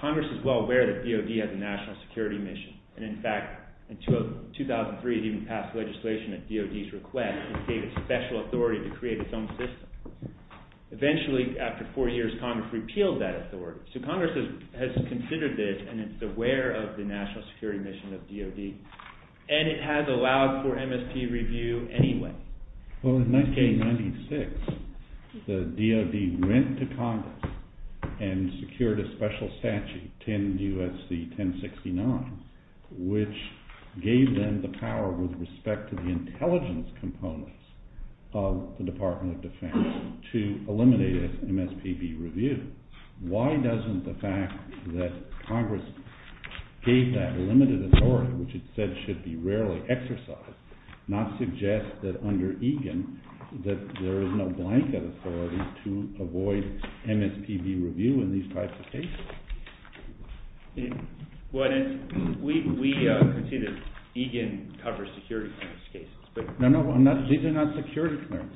Congress is well aware that DOD has a national security mission. And in fact, in 2003, it even passed legislation at DOD's request and gave it special authority to create its own system. Eventually, after four years, Congress repealed that authority. So Congress has considered this and is aware of the national security mission of DOD. And it has allowed for MSPB review anyway. Well, in 1996, the DOD went to Congress and secured a special statute, 10 U.S.C. 1069, which gave them the power with respect to the intelligence components of the Department of Defense to eliminate MSPB review. Why doesn't the fact that Congress gave that limited authority, which it said should be rarely exercised, not suggest that under EGAN that there is no blanket authority to avoid MSPB review in these types of cases? We can see that EGAN covers security clearance cases. No, no, these are not security clearance.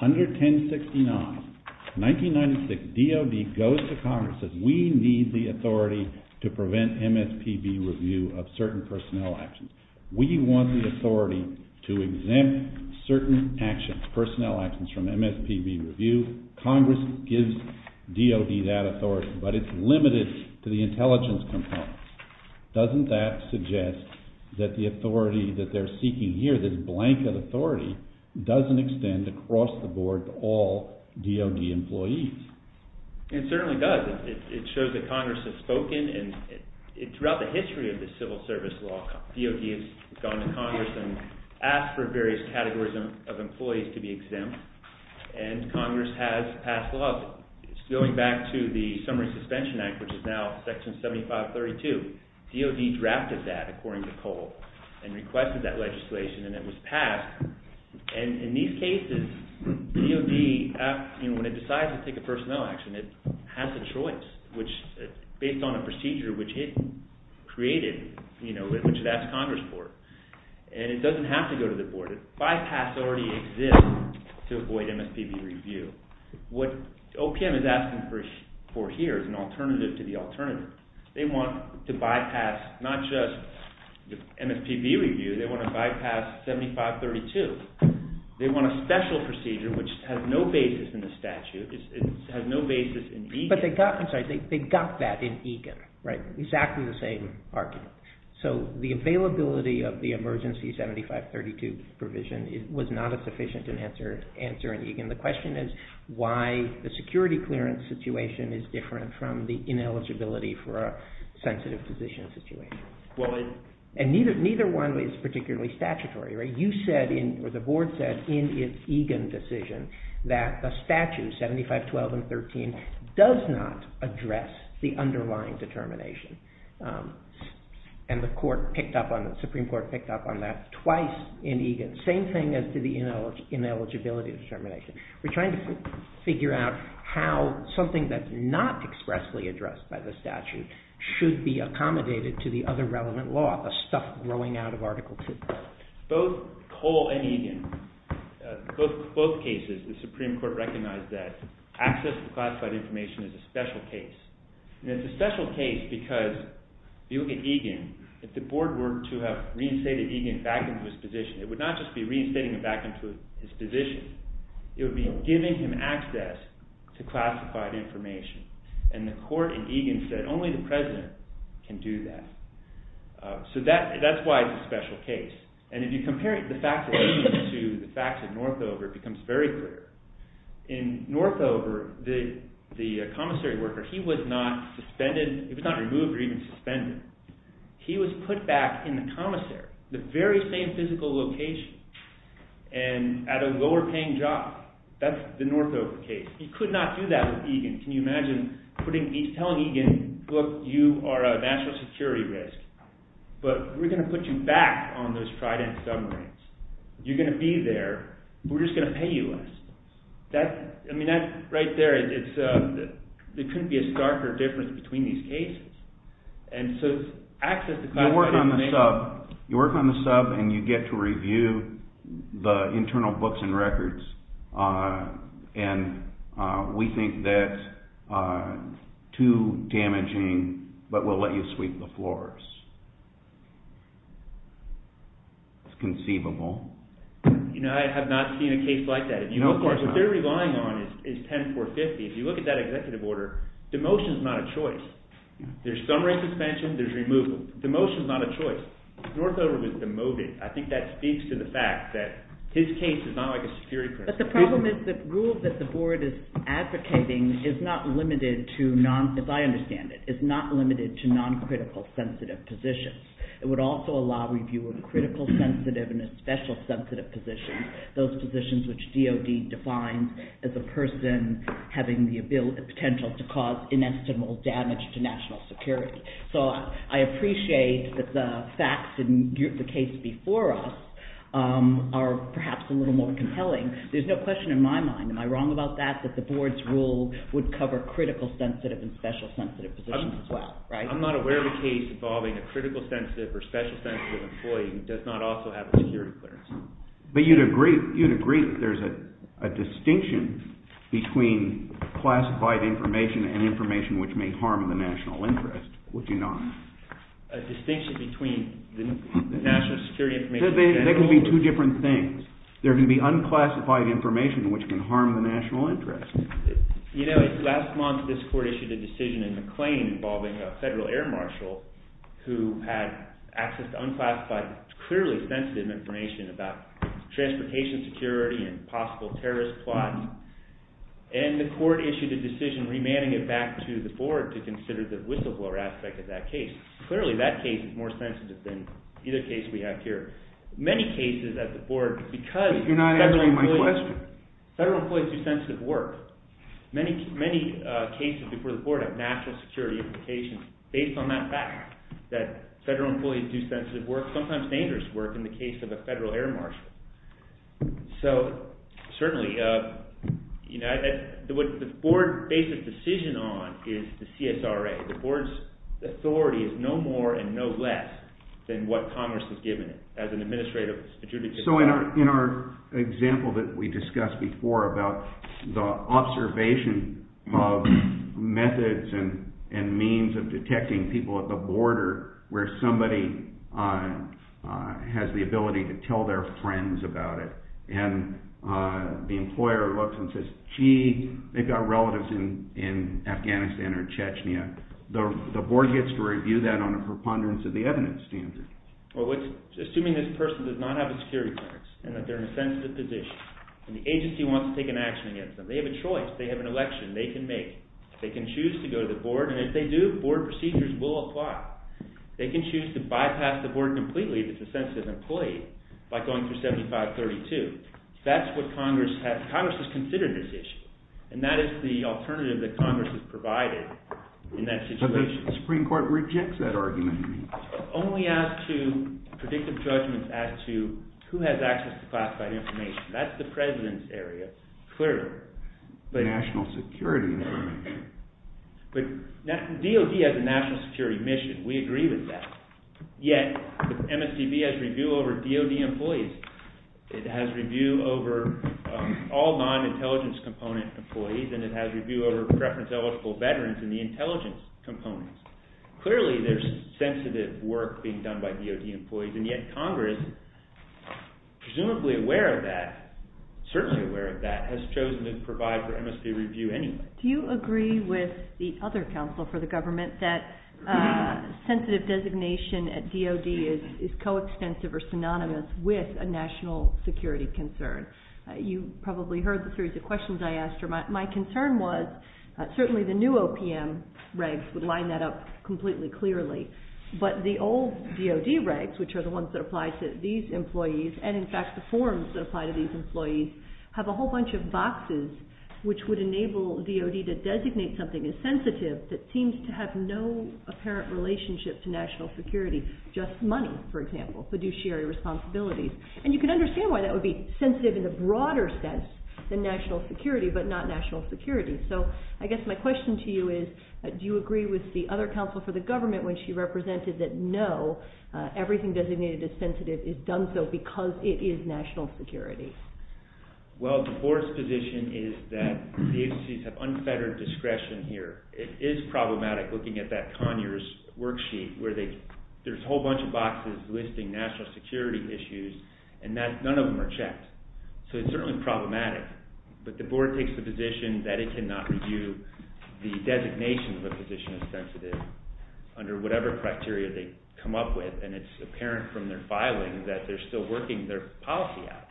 Under 1069, 1996, DOD goes to Congress and says, we need the authority to prevent MSPB review of certain personnel actions. We want the authority to exempt certain actions, personnel actions from MSPB review. Congress gives DOD that authority, but it's limited to the intelligence components. Doesn't that suggest that the authority that they're seeking here, this blanket authority, doesn't extend across the board to all DOD employees? It certainly does. It shows that Congress has spoken. Throughout the history of the civil service law, DOD has gone to Congress and asked for various categories of employees to be exempt, and Congress has passed laws. Going back to the Summary Suspension Act, which is now Section 7532, DOD drafted that, according to Cole, and requested that legislation, and it was passed. In these cases, DOD, when it decides to take a personnel action, it has a choice, based on a procedure which it created, which it asked Congress for. It doesn't have to go to the board. Bypass already exists to avoid MSPB review. What OPM is asking for here is an alternative to the alternative. They want to bypass not just MSPB review, they want to bypass 7532. They want a special procedure which has no basis in the statute. It has no basis in EGAN. But they got that in EGAN, right? Exactly the same argument. So the availability of the emergency 7532 provision was not a sufficient answer in EGAN. The question is why the security clearance situation is different from the ineligibility for a sensitive position situation. Neither one is particularly statutory. The board said in its EGAN decision that the statute, 7512 and 13, does not address the underlying determination, same thing as to the ineligibility determination. We're trying to figure out how something that's not expressly addressed by the statute should be accommodated to the other relevant law, the stuff growing out of Article 2. Both Cole and EGAN, both cases, the Supreme Court recognized that access to classified information is a special case. And it's a special case because if you look at EGAN, if the board were to have reinstated EGAN back into its position, it would not just be reinstating it back into its position. It would be giving him access to classified information. And the court in EGAN said only the president can do that. So that's why it's a special case. And if you compare the facts of EGAN to the facts of Northover, it becomes very clear. In Northover, the commissary worker, he was not suspended. He was not removed or even suspended. He was put back in the commissary, the very same physical location, and at a lower-paying job. That's the Northover case. You could not do that with EGAN. Can you imagine telling EGAN, look, you are a national security risk, but we're going to put you back on those Trident submarines. You're going to be there. We're just going to pay you less. I mean, right there, there couldn't be a starker difference between these cases. And so access to classified information… You work on the sub, and you get to review the internal books and records, and we think that too damaging, but we'll let you sweep the floors. It's conceivable. You know, I have not seen a case like that. Of course, what they're relying on is 10450. If you look at that executive order, demotion is not a choice. There's submarine suspension, there's removal. Demotion is not a choice. Northover was demoted. I think that speaks to the fact that his case is not like a security crisis. But the problem is the rule that the board is advocating is not limited to, as I understand it, is not limited to non-critical sensitive positions. It would also allow review of critical sensitive and special sensitive positions, those positions which DOD defines as a person having the potential to cause inestimable damage to national security. So I appreciate that the facts in the case before us are perhaps a little more compelling. There's no question in my mind, am I wrong about that, that the board's rule would cover critical sensitive and special sensitive positions as well, right? I'm not aware of a case involving a critical sensitive or special sensitive employee who does not also have a security clearance. But you'd agree that there's a distinction between classified information and information which may harm the national interest, would you not? A distinction between the national security information in general? There can be two different things. There can be unclassified information which can harm the national interest. You know, last month this court issued a decision in McLean involving a federal air marshal who had access to unclassified, clearly sensitive information about transportation security and possible terrorist plots. And the court issued a decision remanding it back to the board to consider the whistleblower aspect of that case. Clearly that case is more sensitive than either case we have here. Many cases at the board, because... But you're not answering my question. Federal employees do sensitive work. Many cases before the board have national security implications based on that fact that federal employees do sensitive work, sometimes dangerous work, in the case of a federal air marshal. So, certainly, you know, what the board based its decision on is the CSRA. The board's authority is no more and no less than what Congress has given it as an administrative... So in our example that we discussed before about the observation of methods and means of detecting people at the border where somebody has the ability to tell their friends about it and the employer looks and says, gee, they've got relatives in Afghanistan or Chechnya. The board gets to review that on a preponderance of the evidence standard. Assuming this person does not have a security clearance and that they're in a sensitive position and the agency wants to take an action against them, they have a choice, they have an election, they can make it. They can choose to go to the board and if they do, board procedures will apply. They can choose to bypass the board completely if it's a sensitive employee by going through 7532. That's what Congress has... Congress has considered this issue and that is the alternative that Congress has provided in that situation. But the Supreme Court rejects that argument. Only as to predictive judgments as to who has access to classified information. That's the President's area, clearly. National security. But DOD has a national security mission. We agree with that. Yet MSDB has review over DOD employees. It has review over all non-intelligence component employees and it has review over preference-eligible veterans in the intelligence components. Clearly there's sensitive work being done by DOD employees and yet Congress, presumably aware of that, certainly aware of that, has chosen to provide for MSB review anyway. Do you agree with the other counsel for the government that sensitive designation at DOD is coextensive or synonymous with a national security concern? You probably heard the series of questions I asked her. My concern was certainly the new OPM regs would line that up completely clearly, but the old DOD regs, which are the ones that apply to these employees and in fact the forms that apply to these employees, have a whole bunch of boxes which would enable DOD to designate something as sensitive that seems to have no apparent relationship to national security, just money, for example, fiduciary responsibilities. And you can understand why that would be sensitive in the broader sense than national security, but not national security. So I guess my question to you is do you agree with the other counsel for the government when she represented that no, everything designated as sensitive is done so because it is national security? Well, the board's position is that the agencies have unfettered discretion here. It is problematic looking at that Conures worksheet where there's a whole bunch of boxes listing national security issues and none of them are checked. So it's certainly problematic, but the board takes the position that it cannot review the designation of a position as sensitive under whatever criteria they come up with, and it's apparent from their filing that they're still working their policy out.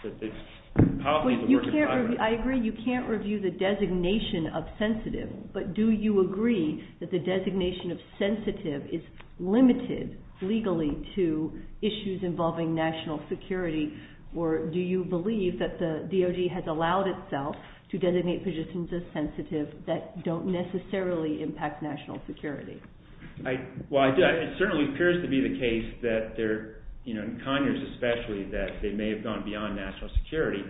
I agree you can't review the designation of sensitive, but do you agree that the designation of sensitive is limited legally to issues involving national security or do you believe that the DOJ has allowed itself to designate positions as sensitive that don't necessarily impact national security? Well, it certainly appears to be the case that they're, you know, in Conures especially, that they may have gone beyond national security.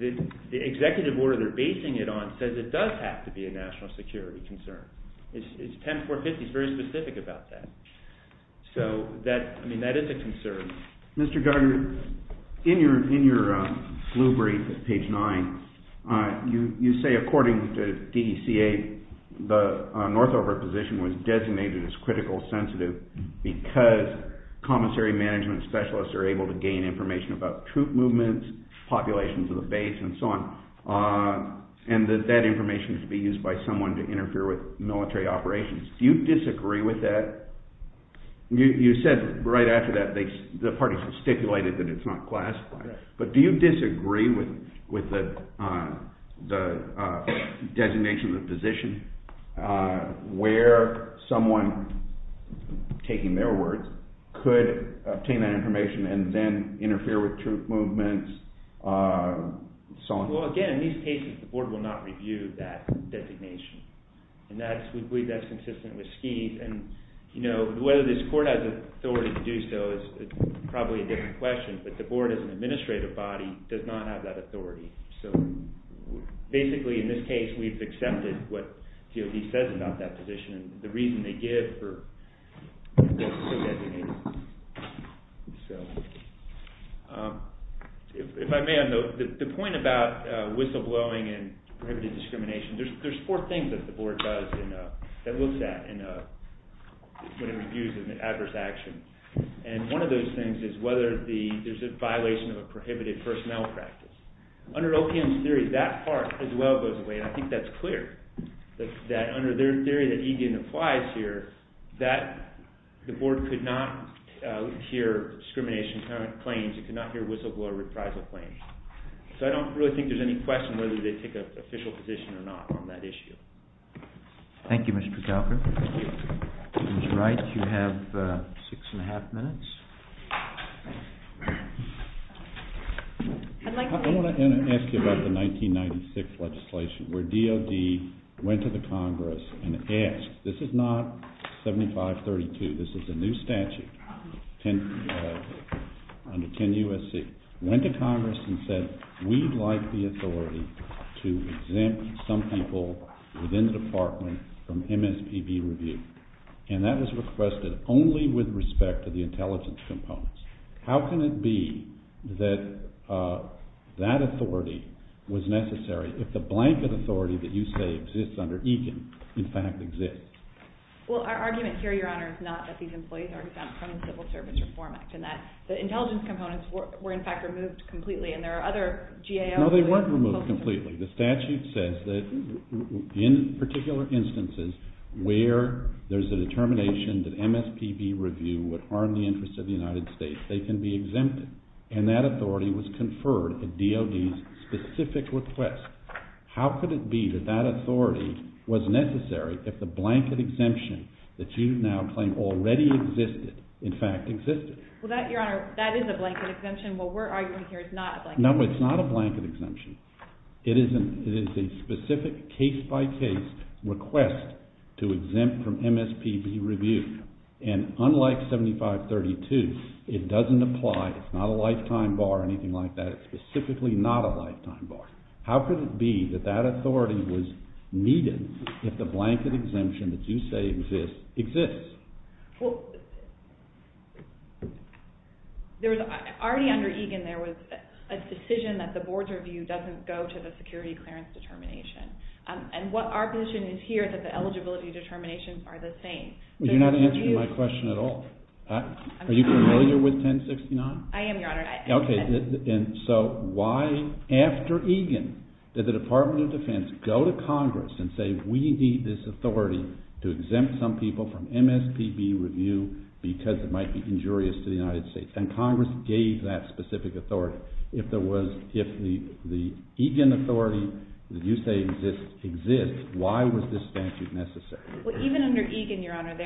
The executive order they're basing it on says it does have to be a national security concern. It's 10450. It's very specific about that. So, I mean, that is a concern. Mr. Geiger, in your blue brief at page 9, you say according to DECA, the Northrop position was designated as critical sensitive because commissary management specialists are able to gain information about troop movements, populations of the base, and so on, and that that information could be used by someone to interfere with military operations. Do you disagree with that? You said right after that the parties have stipulated that it's not classified, but do you disagree with the designation of the position where someone, taking their words, could obtain that information and then interfere with troop movements, so on? Well, again, in these cases, the board will not review that designation, and we believe that's consistent with SKEED. And, you know, whether this court has the authority to do so is probably a different question, but the board as an administrative body does not have that authority. So, basically, in this case, we've accepted what DOD says about that position and the reason they give for the designation. So, if I may, the point about whistleblowing and prohibitive discrimination, there's four things that the board does and looks at when it reviews an adverse action, and one of those things is whether there's a violation of a prohibited personnel practice. Under OPM's theory, that part as well goes away, and I think that's clear, that under their theory that EDN applies here, that the board could not hear discrimination claims, it could not hear whistleblower reprisal claims. So, I don't really think there's any question whether they take an official position or not on that issue. Thank you, Mr. Calker. Ms. Wright, you have six and a half minutes. I want to ask you about the 1996 legislation where DOD went to the Congress and asked, this is not 7532, this is a new statute under 10 U.S.C., went to Congress and said, we'd like the authority to exempt some people within the department from MSPB review, and that was requested only with respect to the intelligence components. How can it be that that authority was necessary if the blanket authority that you say exists under EKEN in fact exists? Well, our argument here, Your Honor, is not that these employees are exempt from the Civil Service Reform Act, and that the intelligence components were, in fact, removed completely, and there are other GAOs. No, they weren't removed completely. The statute says that in particular instances where there's a determination that MSPB review would harm the interests of the United States, they can be exempted, and that authority was conferred at DOD's specific request. How could it be that that authority was necessary if the blanket exemption that you now claim already existed in fact existed? Well, Your Honor, that is a blanket exemption. What we're arguing here is not a blanket exemption. No, it's not a blanket exemption. It is a specific case-by-case request to exempt from MSPB review, and unlike 7532, it doesn't apply. It's not a lifetime bar or anything like that. It's specifically not a lifetime bar. How could it be that that authority was needed if the blanket exemption that you say exists exists? Well, already under Egan, there was a decision that the board's review doesn't go to the security clearance determination, and what our position is here is that the eligibility determinations are the same. You're not answering my question at all. Are you familiar with 1069? I am, Your Honor. Okay, and so why, after Egan, did the Department of Defense go to Congress and say we need this authority to exempt some people from MSPB review because it might be injurious to the United States? And Congress gave that specific authority. If the Egan authority that you say exists exists, why was this statute necessary? Well, even under Egan, Your Honor,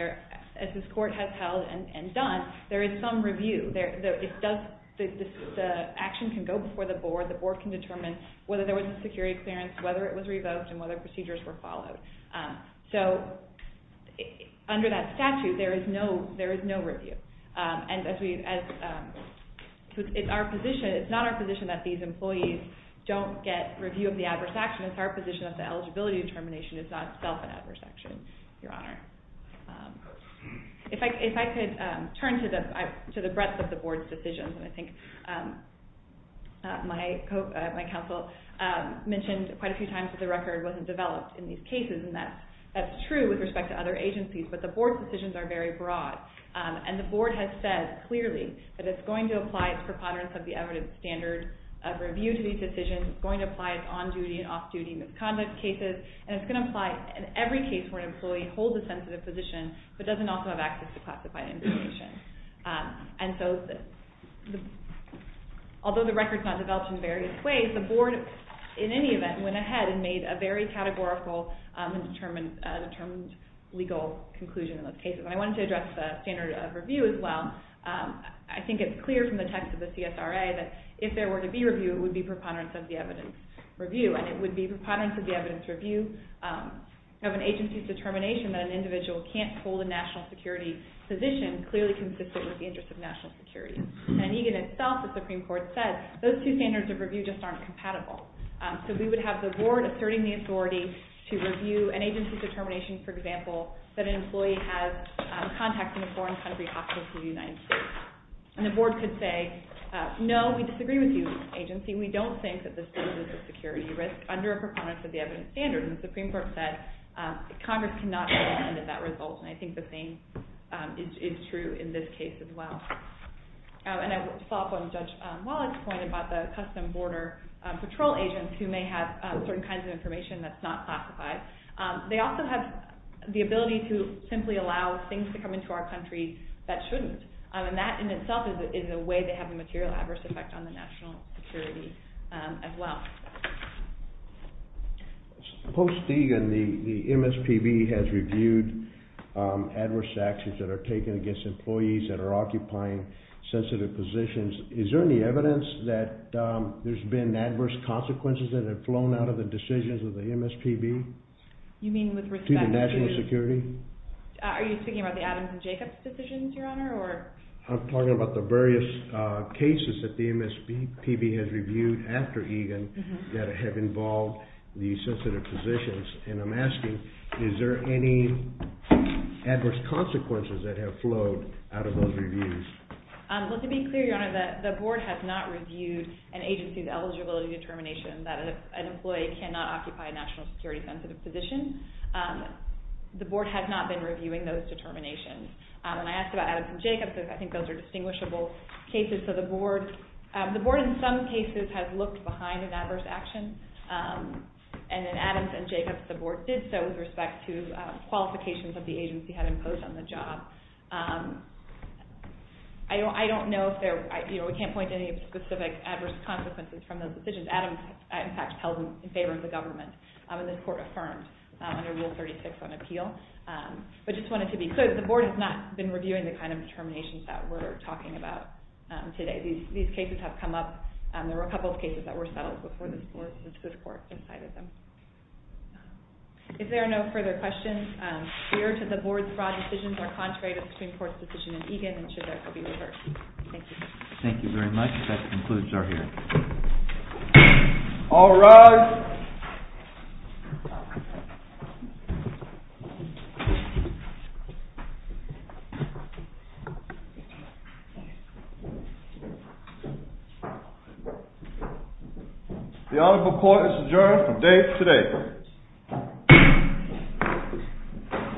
as this Court has held and done, there is some review. The action can go before the board. The board can determine whether there was a security clearance, whether it was revoked, and whether procedures were followed. So under that statute, there is no review. It's not our position that these employees don't get review of the adverse action. It's our position that the eligibility determination is not itself an adverse action, Your Honor. If I could turn to the breadth of the board's decisions, and I think my counsel mentioned quite a few times that the record wasn't developed in these cases, and that's true with respect to other agencies, but the board's decisions are very broad. And the board has said clearly that it's going to apply its preponderance of the evidence standard of review to these decisions. It's going to apply its on-duty and off-duty misconduct cases, and it's going to apply in every case where an employee holds a sensitive position but doesn't also have access to classified information. And so although the record's not developed in various ways, the board, in any event, went ahead and made a very categorical and determined legal conclusion in those cases. And I wanted to address the standard of review as well. I think it's clear from the text of the CSRA that if there were to be review, it would be preponderance of the evidence review, and it would be preponderance of the evidence review of an agency's determination that an individual can't hold a national security position clearly consistent with the interests of national security. And in EGAN itself, the Supreme Court said, those two standards of review just aren't compatible. So we would have the board asserting the authority to review an agency's determination, for example, that an employee has contact in a foreign country hospital from the United States. And the board could say, no, we disagree with you, agency. We don't think that this is a security risk under a preponderance of the evidence standard. And the Supreme Court said Congress cannot be offended of that result, and I think the same is true in this case as well. And I will follow up on Judge Wallach's point about the Custom Border Patrol agents who may have certain kinds of information that's not classified. They also have the ability to simply allow things to come into our country that shouldn't. And that in itself is a way to have a material adverse effect on the national security as well. Post-EGAN, the MSPB has reviewed adverse actions that are taken against employees that are occupying sensitive positions. Is there any evidence that there's been adverse consequences that have flown out of the decisions of the MSPB to the national security? Are you speaking about the Adams and Jacobs decisions, Your Honor? I'm talking about the various cases that the MSPB has reviewed after EGAN that have involved these sensitive positions. And I'm asking, is there any adverse consequences that have flowed out of those reviews? Well, to be clear, Your Honor, the board has not reviewed an agency's eligibility determination that an employee cannot occupy a national security sensitive position. The board has not been reviewing those determinations. And I asked about Adams and Jacobs because I think those are distinguishable cases. So the board, in some cases, has looked behind an adverse action. And in Adams and Jacobs, the board did so with respect to qualifications that the agency had imposed on the job. I don't know if there, you know, we can't point to any specific adverse consequences from those decisions. Adams, in fact, held them in favor of the government. And the court affirmed under Rule 36 on appeal. But I just wanted to be clear that the board has not been reviewing the kind of determinations that we're talking about today. These cases have come up. There were a couple of cases that were settled before this court decided them. If there are no further questions, clear to the board that the decisions are contrary to the Supreme Court's decision in EGAN and should therefore be reversed. Thank you. Thank you very much. That concludes our hearing. All rise. The honorable court is adjourned for today.